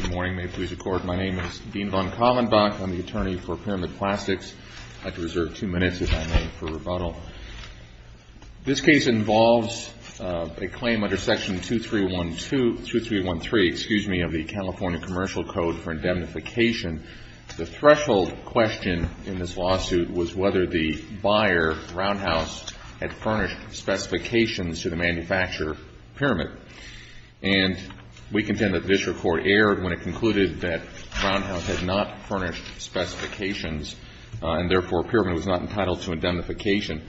Good morning. May it please the Court, my name is Dean von Kallenbach. I'm the attorney for Pyramid Plastics. I have to reserve two minutes, if I may, for rebuttal. This case involves a claim under Section 2313 of the California Commercial Code for Indemnification. The threshold question in this lawsuit was whether the buyer, Roundhouse, had furnished specifications to the manufacturer, Pyramid. And we contend that the district court erred when it concluded that Roundhouse had not furnished specifications and therefore Pyramid was not entitled to indemnification.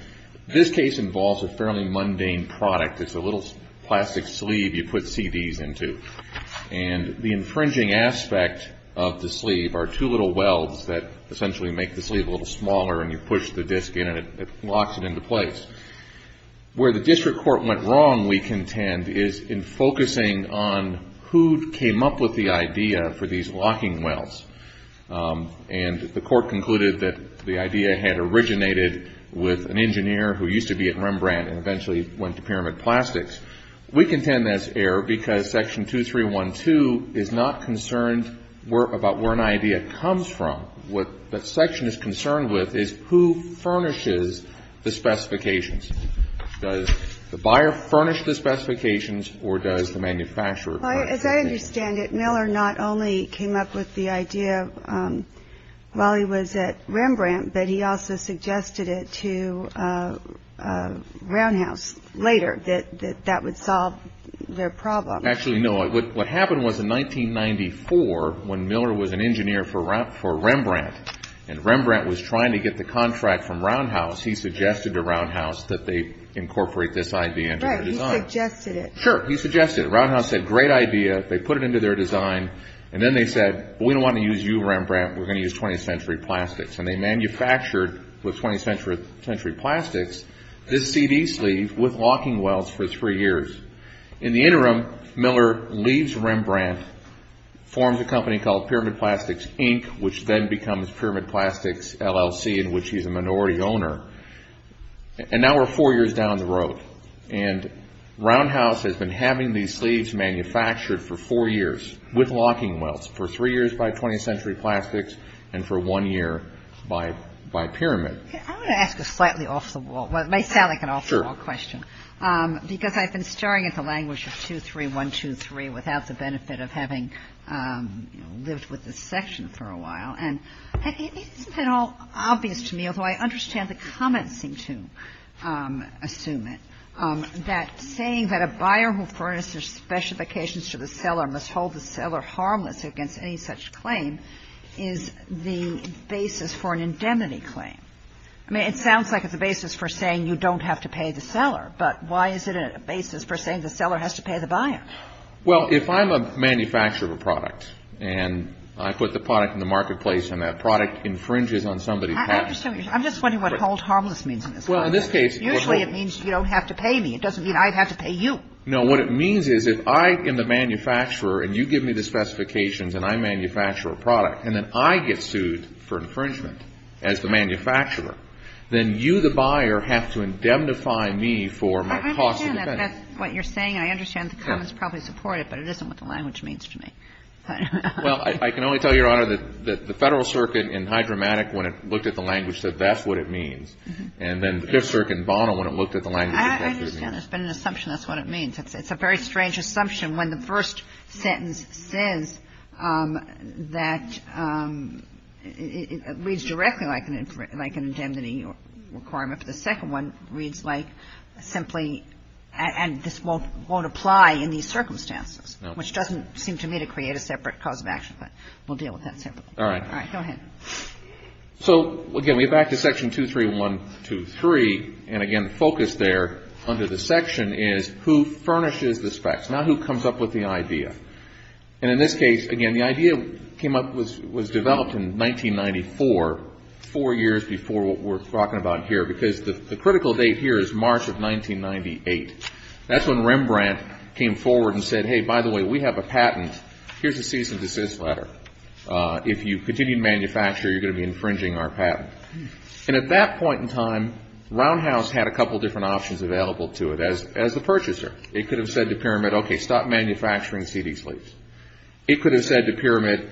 This case involves a fairly mundane product. It's a little plastic sleeve you put CDs into. And the infringing aspect of the sleeve are two little welds that essentially make the sleeve a little smaller and you push the disc in and it locks it into place. Where the district court went wrong, we contend, is in focusing on who came up with the idea for these locking welds. And the court concluded that the idea had originated with an engineer who used to be at Rembrandt and eventually went to Pyramid Plastics. We contend that's error because Section 2312 is not concerned about where an idea comes from. What that section is concerned with is who furnishes the specifications. Does the buyer furnish the specifications or does the manufacturer furnish the specifications? As I understand it, Miller not only came up with the idea while he was at Rembrandt, but he also suggested it to Roundhouse later that that would solve their problem. Actually, no. What happened was in 1994 when Miller was an engineer for Rembrandt and Rembrandt was trying to get the contract from Roundhouse, he suggested to Roundhouse that they incorporate this idea into their design. Right, he suggested it. Sure, he suggested it. Roundhouse said, great idea. They put it into their design and then they said, we don't want to use you, Rembrandt. We're going to use 20th Century Plastics. And they manufactured with 20th Century Plastics this CD sleeve with locking welds for three years. In the interim, Miller leaves Rembrandt, forms a company called Pyramid Plastics, Inc., which then becomes Pyramid Plastics, LLC, in which he's a minority owner. And now we're four years down the road. And Roundhouse has been having these sleeves manufactured for four years with locking welds, for three years by 20th Century Plastics and for one year by Pyramid. I want to ask a slightly off the wall, well, it may sound like an off the wall question, because I've been staring at the language of 23123 without the benefit of having lived with this section for a while. And it's been all obvious to me, although I understand the comments seem to assume it, that saying that a buyer who furnishes specifications to the seller must hold the seller harmless against any such claim is the basis for an indemnity claim. I mean, it sounds like it's a basis for saying you don't have to pay the seller. But why is it a basis for saying the seller has to pay the buyer? Well, if I'm a manufacturer of a product and I put the product in the marketplace and that product infringes on somebody's patent. I'm just wondering what hold harmless means in this context. Well, in this case, it would hold. Usually it means you don't have to pay me. It doesn't mean I have to pay you. No. What it means is if I am the manufacturer and you give me the specifications and I manufacture a product and then I get sued for infringement as the manufacturer, then you, the buyer, have to indemnify me for my cost of defendant. I understand that. That's what you're saying. I understand the comments probably support it, but it isn't what the language means to me. Well, I can only tell you, Your Honor, that the Federal Circuit in Hydromatic when it looked at the language said that's what it means. And then the Fifth Circuit in Bono when it looked at the language said that's what it means. I understand. There's been an assumption that's what it means. It's a very strange assumption when the first sentence says that it reads directly like an indemnity requirement, but the second one reads like simply and this won't apply in these circumstances, which doesn't seem to me to create a separate cause of action. But we'll deal with that separately. All right. All right. Go ahead. So, again, we go back to Section 23123 and, again, focus there under the section is who furnishes the specs, not who comes up with the idea. And in this case, again, the idea came up, was developed in 1994, four years before what we're talking about here because the critical date here is March of 1998. That's when Rembrandt came forward and said, hey, by the way, we have a patent. Here's a cease and desist letter. If you continue to manufacture, you're going to be infringing our patent. And at that point in time, Roundhouse had a couple of different options available to it as the purchaser. It could have said to Pyramid, okay, stop manufacturing CD sleeves. It could have said to Pyramid,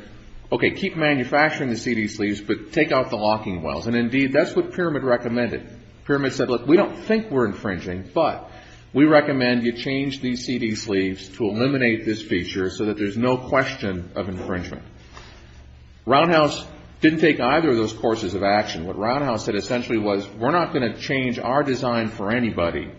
okay, keep manufacturing the CD sleeves, but take out the locking wells. And, indeed, that's what Pyramid recommended. Pyramid said, look, we don't think we're infringing, but we recommend you change these CD sleeves to eliminate this feature so that there's no question of infringement. Roundhouse didn't take either of those courses of action. What Roundhouse said essentially was, we're not going to change our design for anybody.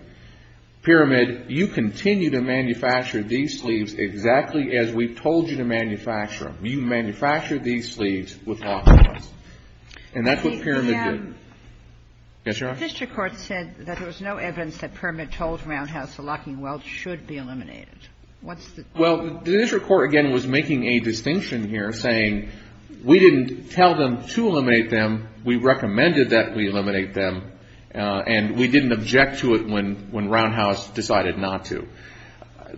Pyramid, you continue to manufacture these sleeves exactly as we told you to manufacture them. You manufacture these sleeves with locking wells. Yes, Your Honor? But the district court said that there was no evidence that Pyramid told Roundhouse the locking wells should be eliminated. What's the difference? Well, the district court, again, was making a distinction here, saying we didn't tell them to eliminate them. We recommended that we eliminate them. And we didn't object to it when Roundhouse decided not to.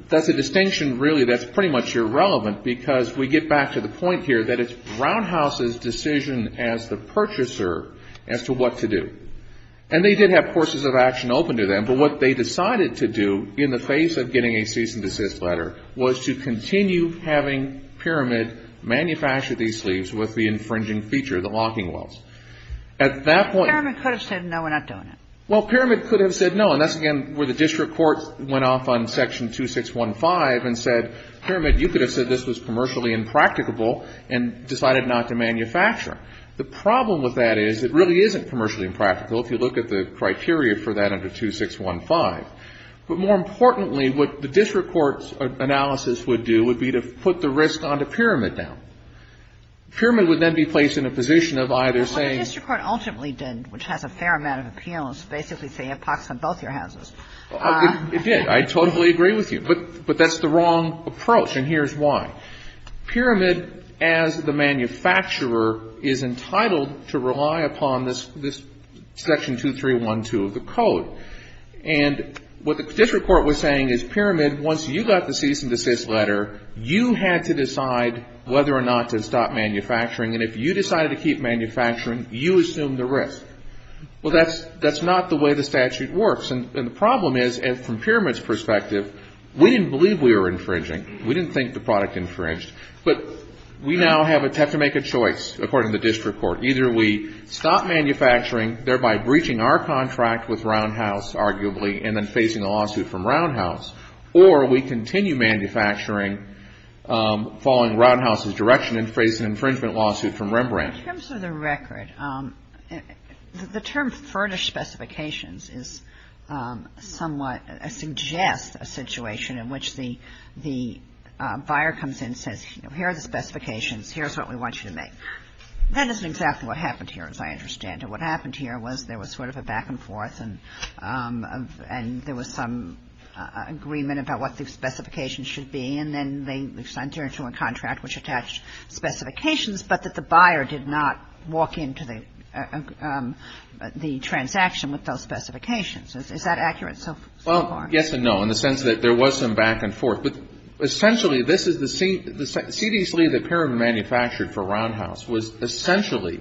That's a distinction, really, that's pretty much irrelevant because we get back to the point here that it's Roundhouse's decision as the purchaser as to what to do. And they did have courses of action open to them. But what they decided to do in the face of getting a cease and desist letter was to continue having Pyramid manufacture these sleeves with the infringing feature, the locking wells. At that point — Pyramid could have said, no, we're not doing it. Well, Pyramid could have said no. And that's, again, where the district court went off on Section 2615 and said, Pyramid, you could have said this was commercially impracticable and decided not to manufacture. The problem with that is it really isn't commercially impractical if you look at the criteria for that under 2615. But more importantly, what the district court's analysis would do would be to put the risk on to Pyramid now. Pyramid would then be placed in a position of either saying — But what the district court ultimately did, which has a fair amount of appeals, basically say you have pox on both your houses. It did. I totally agree with you. But that's the wrong approach, and here's why. Pyramid, as the manufacturer, is entitled to rely upon this Section 2312 of the Code. And what the district court was saying is, Pyramid, once you got the cease and desist letter, you had to decide whether or not to stop manufacturing. And if you decided to keep manufacturing, you assumed the risk. Well, that's not the way the statute works. And the problem is, from Pyramid's perspective, we didn't believe we were infringing. We didn't think the product infringed. But we now have to make a choice, according to the district court. Either we stop manufacturing, thereby breaching our contract with Roundhouse, arguably, and then facing a lawsuit from Roundhouse, or we continue manufacturing following Roundhouse's direction and face an infringement lawsuit from Rembrandt. In terms of the record, the term furnished specifications is somewhat — suggests a buyer comes in and says, you know, here are the specifications. Here's what we want you to make. That isn't exactly what happened here, as I understand it. What happened here was there was sort of a back-and-forth, and there was some agreement about what the specifications should be, and then they signed into a contract which attached specifications, but that the buyer did not walk into the transaction with those specifications. Is that accurate so far? Well, yes and no, in the sense that there was some back-and-forth. But essentially, this is the same — the CD sleeve that Parham manufactured for Roundhouse was essentially,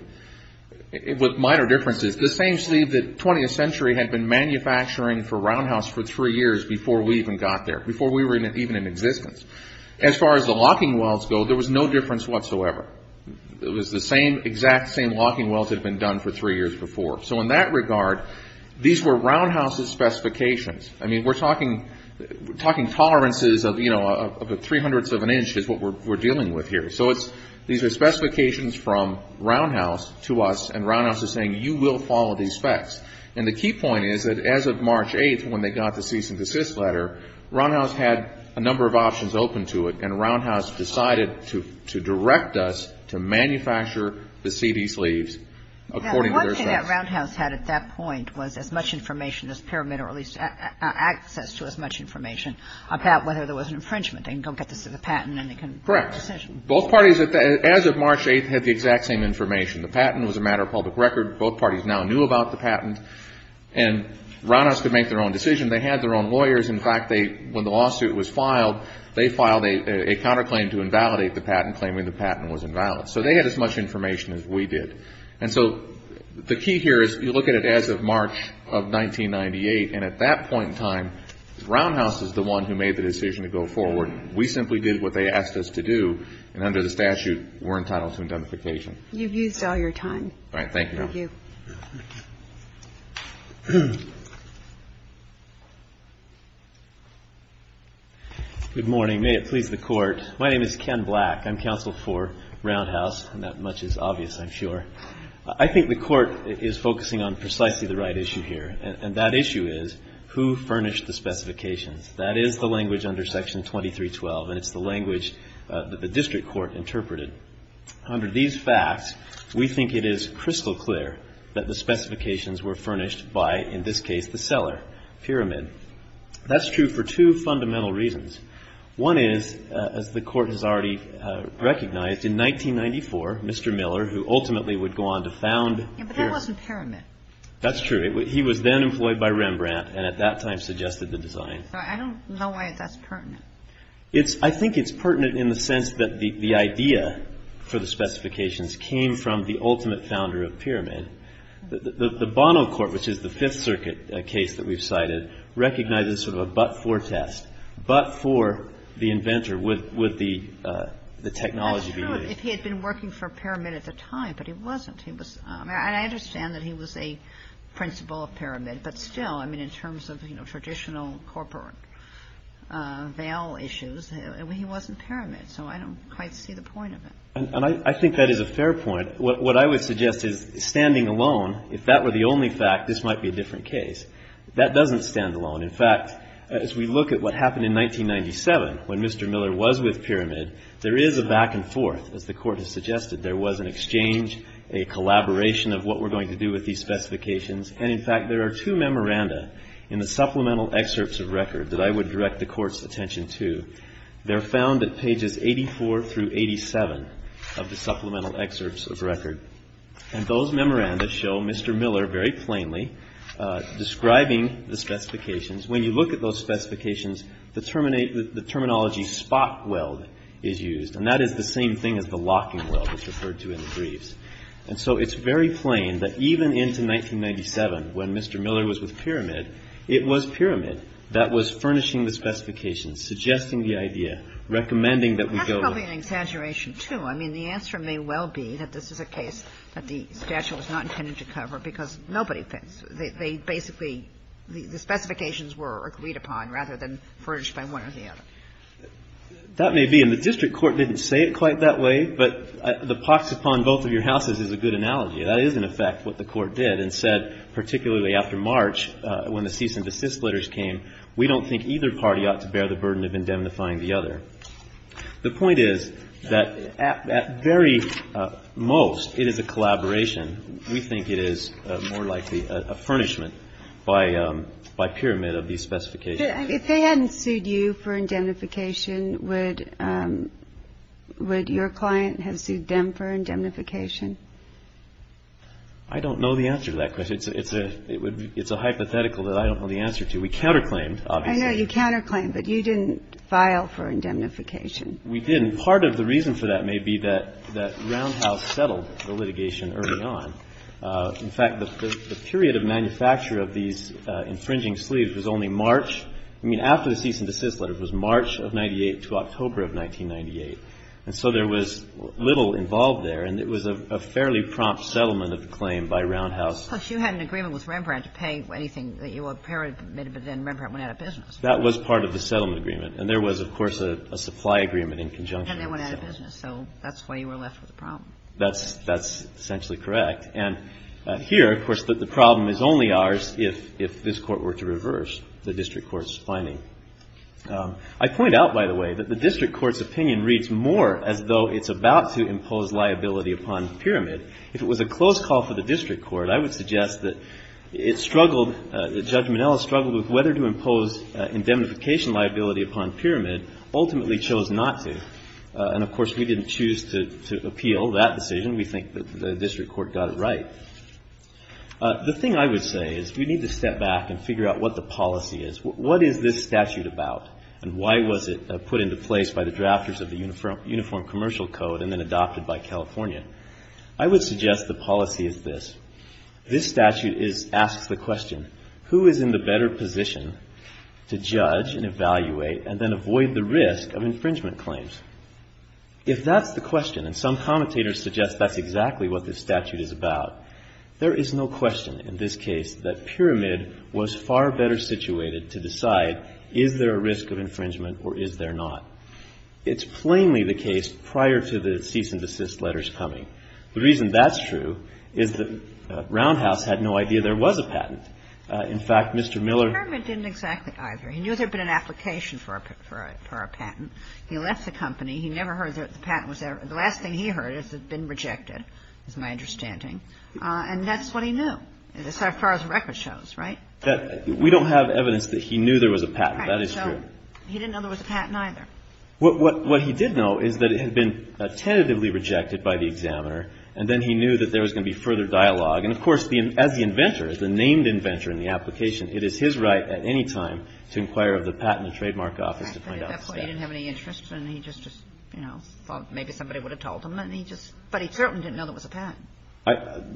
with minor differences, the same sleeve that 20th Century had been manufacturing for Roundhouse for three years before we even got there, before we were even in existence. As far as the locking welds go, there was no difference whatsoever. It was the same — exact same locking welds had been done for three years before. So in that regard, these were Roundhouse's specifications. I mean, we're talking tolerances of, you know, three hundredths of an inch is what we're dealing with here. So these are specifications from Roundhouse to us, and Roundhouse is saying you will follow these specs. And the key point is that as of March 8th, when they got the cease and desist letter, Roundhouse had a number of options open to it, and Roundhouse decided to direct us to manufacture the CD sleeves according to their specs. And what Roundhouse had at that point was as much information as Pyramid, or at least access to as much information about whether there was an infringement. They can go get the patent, and they can make a decision. Correct. Both parties, as of March 8th, had the exact same information. The patent was a matter of public record. Both parties now knew about the patent, and Roundhouse could make their own decision. They had their own lawyers. In fact, when the lawsuit was filed, they filed a counterclaim to invalidate the patent, claiming the patent was invalid. So they had as much information as we did. And so the key here is you look at it as of March of 1998, and at that point in time, Roundhouse is the one who made the decision to go forward. We simply did what they asked us to do. And under the statute, we're entitled to indemnification. You've used all your time. All right. Thank you. Thank you. Good morning. May it please the Court. My name is Ken Black. I'm counsel for Roundhouse, and that much is obvious, I'm sure. I think the Court is focusing on precisely the right issue here, and that issue is, who furnished the specifications? That is the language under Section 2312, and it's the language that the district court interpreted. Under these facts, we think it is crystal clear that the specifications were furnished by, in this case, the seller, Pyramid. That's true for two fundamental reasons. One is, as the Court has already recognized, in 1994, Mr. Miller, who ultimately would go on to found Pyramid. But that wasn't Pyramid. That's true. He was then employed by Rembrandt, and at that time suggested the design. So I don't know why that's pertinent. I think it's pertinent in the sense that the idea for the specifications came from the ultimate founder of Pyramid. The Bono Court, which is the Fifth Circuit case that we've cited, recognizes sort of a but-for test. But for the inventor, would the technology be used? That's true, if he had been working for Pyramid at the time. But he wasn't. I mean, I understand that he was a principal of Pyramid. But still, I mean, in terms of, you know, traditional corporate veil issues, he wasn't Pyramid. So I don't quite see the point of it. And I think that is a fair point. What I would suggest is, standing alone, if that were the only fact, this might be a different case. That doesn't stand alone. In fact, as we look at what happened in 1997, when Mr. Miller was with Pyramid, there is a back and forth. As the Court has suggested, there was an exchange, a collaboration of what we're going to do with these specifications. And, in fact, there are two memoranda in the supplemental excerpts of record that I would direct the Court's attention to. They're found at pages 84 through 87 of the supplemental excerpts of record. And those memoranda show Mr. Miller very plainly describing the specifications. When you look at those specifications, the terminology spot weld is used. And that is the same thing as the locking weld that's referred to in the briefs. And so it's very plain that even into 1997, when Mr. Miller was with Pyramid, it was Pyramid that was furnishing the specifications, suggesting the idea, recommending that we go with it. Kagan. I mean, the answer may well be that this is a case that the statute was not intended to cover because nobody thinks they basically, the specifications were agreed upon rather than furnished by one or the other. That may be. And the district court didn't say it quite that way. But the pox upon both of your houses is a good analogy. That is, in effect, what the Court did and said, particularly after March, when the cease and desist letters came, we don't think either party ought to bear the burden of indemnifying the other. The point is that at very most, it is a collaboration. We think it is more likely a furnishment by Pyramid of these specifications. If they hadn't sued you for indemnification, would your client have sued them for indemnification? I don't know the answer to that question. It's a hypothetical that I don't know the answer to. We counterclaimed, obviously. I know you counterclaimed, but you didn't file for indemnification. We didn't. Part of the reason for that may be that Roundhouse settled the litigation early on. In fact, the period of manufacture of these infringing sleeves was only March. I mean, after the cease and desist letters was March of 98 to October of 1998. And so there was little involved there. And it was a fairly prompt settlement of the claim by Roundhouse. Plus, you had an agreement with Rembrandt to pay anything that you were permitted, but then Rembrandt went out of business. That was part of the settlement agreement. And there was, of course, a supply agreement in conjunction. And they went out of business. So that's why you were left with the problem. That's essentially correct. And here, of course, the problem is only ours if this Court were to reverse the district court's finding. I point out, by the way, that the district court's opinion reads more as though it's about to impose liability upon Pyramid. If it was a close call for the district court, I would suggest that it struggled – that Judge Minnell struggled with whether to impose indemnification liability upon Pyramid, ultimately chose not to. And, of course, we didn't choose to appeal that decision. We think that the district court got it right. The thing I would say is we need to step back and figure out what the policy is. What is this statute about? And why was it put into place by the drafters of the Uniform Commercial Code and then adopted by California? I would suggest the policy is this. This statute asks the question, who is in the better position to judge and evaluate and then avoid the risk of infringement claims? If that's the question, and some commentators suggest that's exactly what this statute is about, there is no question in this case that Pyramid was far better situated to decide is there a risk of infringement or is there not? It's plainly the case prior to the cease and desist letters coming. The reason that's true is that Roundhouse had no idea there was a patent. In fact, Mr. Miller – Mr. Pyramid didn't exactly either. He knew there had been an application for a patent. He left the company. He never heard that the patent was there. The last thing he heard is it had been rejected, is my understanding. And that's what he knew, as far as the record shows, right? We don't have evidence that he knew there was a patent. That is true. He didn't know there was a patent either. What he did know is that it had been tentatively rejected by the examiner, and then he knew that there was going to be further dialogue. And, of course, as the inventor, as the named inventor in the application, it is his right at any time to inquire of the patent and trademark office to find out. At that point, he didn't have any interest, and he just, you know, thought maybe somebody would have told him. But he certainly didn't know there was a patent.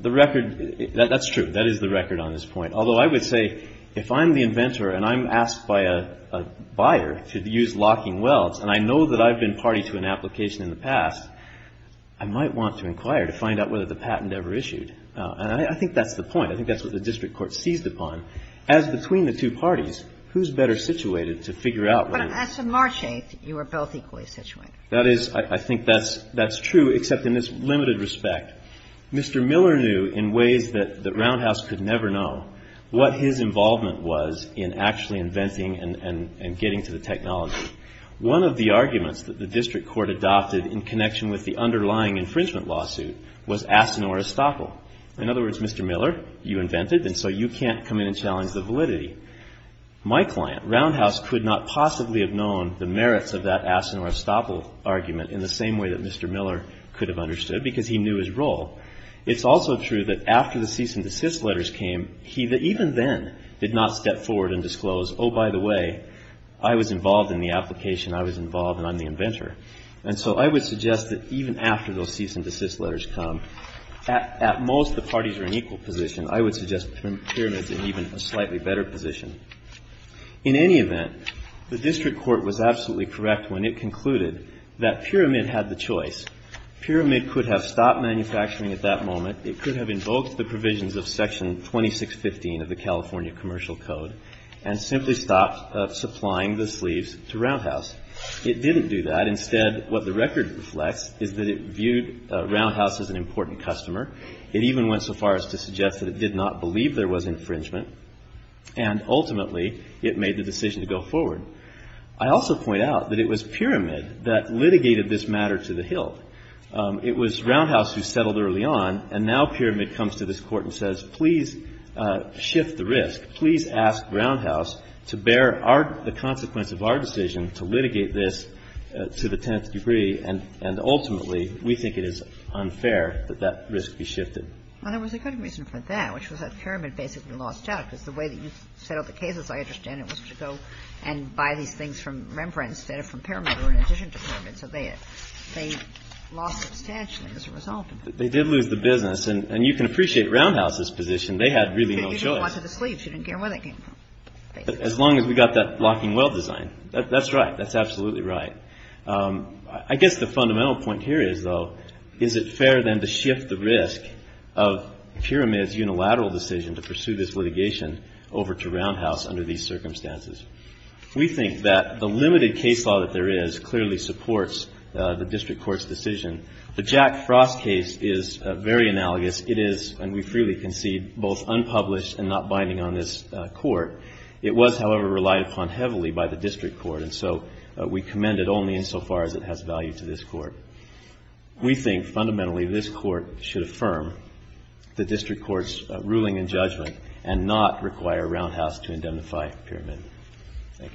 The record – that's true. That is the record on this point. Although I would say if I'm the inventor and I'm asked by a buyer to use locking welds, and I know that I've been party to an application in the past, I might want to inquire to find out whether the patent ever issued. And I think that's the point. I think that's what the district court seized upon. As between the two parties, who's better situated to figure out whether the patent was issued? But as of March 8th, you were both equally situated. That is – I think that's true, except in this limited respect. Mr. Miller knew in ways that Roundhouse could never know what his involvement was in actually inventing and getting to the technology. One of the arguments that the district court adopted in connection with the underlying infringement lawsuit was Asinor Estoppel. In other words, Mr. Miller, you invented, and so you can't come in and challenge the validity. My client, Roundhouse, could not possibly have known the merits of that Asinor Estoppel argument in the same way that Mr. Miller could have understood, because he knew his role. It's also true that after the cease and desist letters came, he even then did not step forward and disclose, oh, by the way, I was involved in the application. I was involved, and I'm the inventor. And so I would suggest that even after those cease and desist letters come, at most the parties are in equal position. I would suggest Pyramid's in even a slightly better position. In any event, the district court was absolutely correct when it concluded that Pyramid had the choice. Pyramid could have stopped manufacturing at that moment. It could have invoked the provisions of Section 2615 of the California Commercial Code and simply stopped supplying the sleeves to Roundhouse. It didn't do that. Instead, what the record reflects is that it viewed Roundhouse as an important customer. It even went so far as to suggest that it did not believe there was infringement, and ultimately it made the decision to go forward. I also point out that it was Pyramid that litigated this matter to the Hill. It was Roundhouse who settled early on, and now Pyramid comes to this Court and says, please shift the risk. Please ask Roundhouse to bear the consequence of our decision to litigate this to the tenth degree, and ultimately we think it is unfair that that risk be shifted. Well, there was a good reason for that, which was that Pyramid basically lost out, because the way that you set up the cases, I understand, it was to go and buy these things from Rembrandt instead of from Pyramid or in addition to Pyramid. So they lost substantially as a result. They did lose the business. And you can appreciate Roundhouse's position. They had really no choice. But you didn't want to the sleeves. You didn't care where they came from, basically. As long as we got that locking well design. That's right. That's absolutely right. I guess the fundamental point here is, though, is it fair then to shift the risk of Pyramid's unilateral decision to pursue this litigation over to Roundhouse under these circumstances? We think that the limited case law that there is clearly supports the district court's decision. The Jack Frost case is very analogous. It is, and we freely concede, both unpublished and not binding on this Court. It was, however, relied upon heavily by the district court. And so we commend it only insofar as it has value to this Court. We think, fundamentally, this Court should affirm the district court's ruling and judgment and not require Roundhouse to indemnify Pyramid. Thank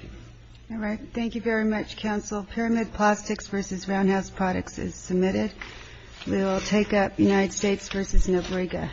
you. All right. Thank you very much, counsel. Pyramid Plastics v. Roundhouse Products is submitted. We will take up United States v. Nobrega. Thank you.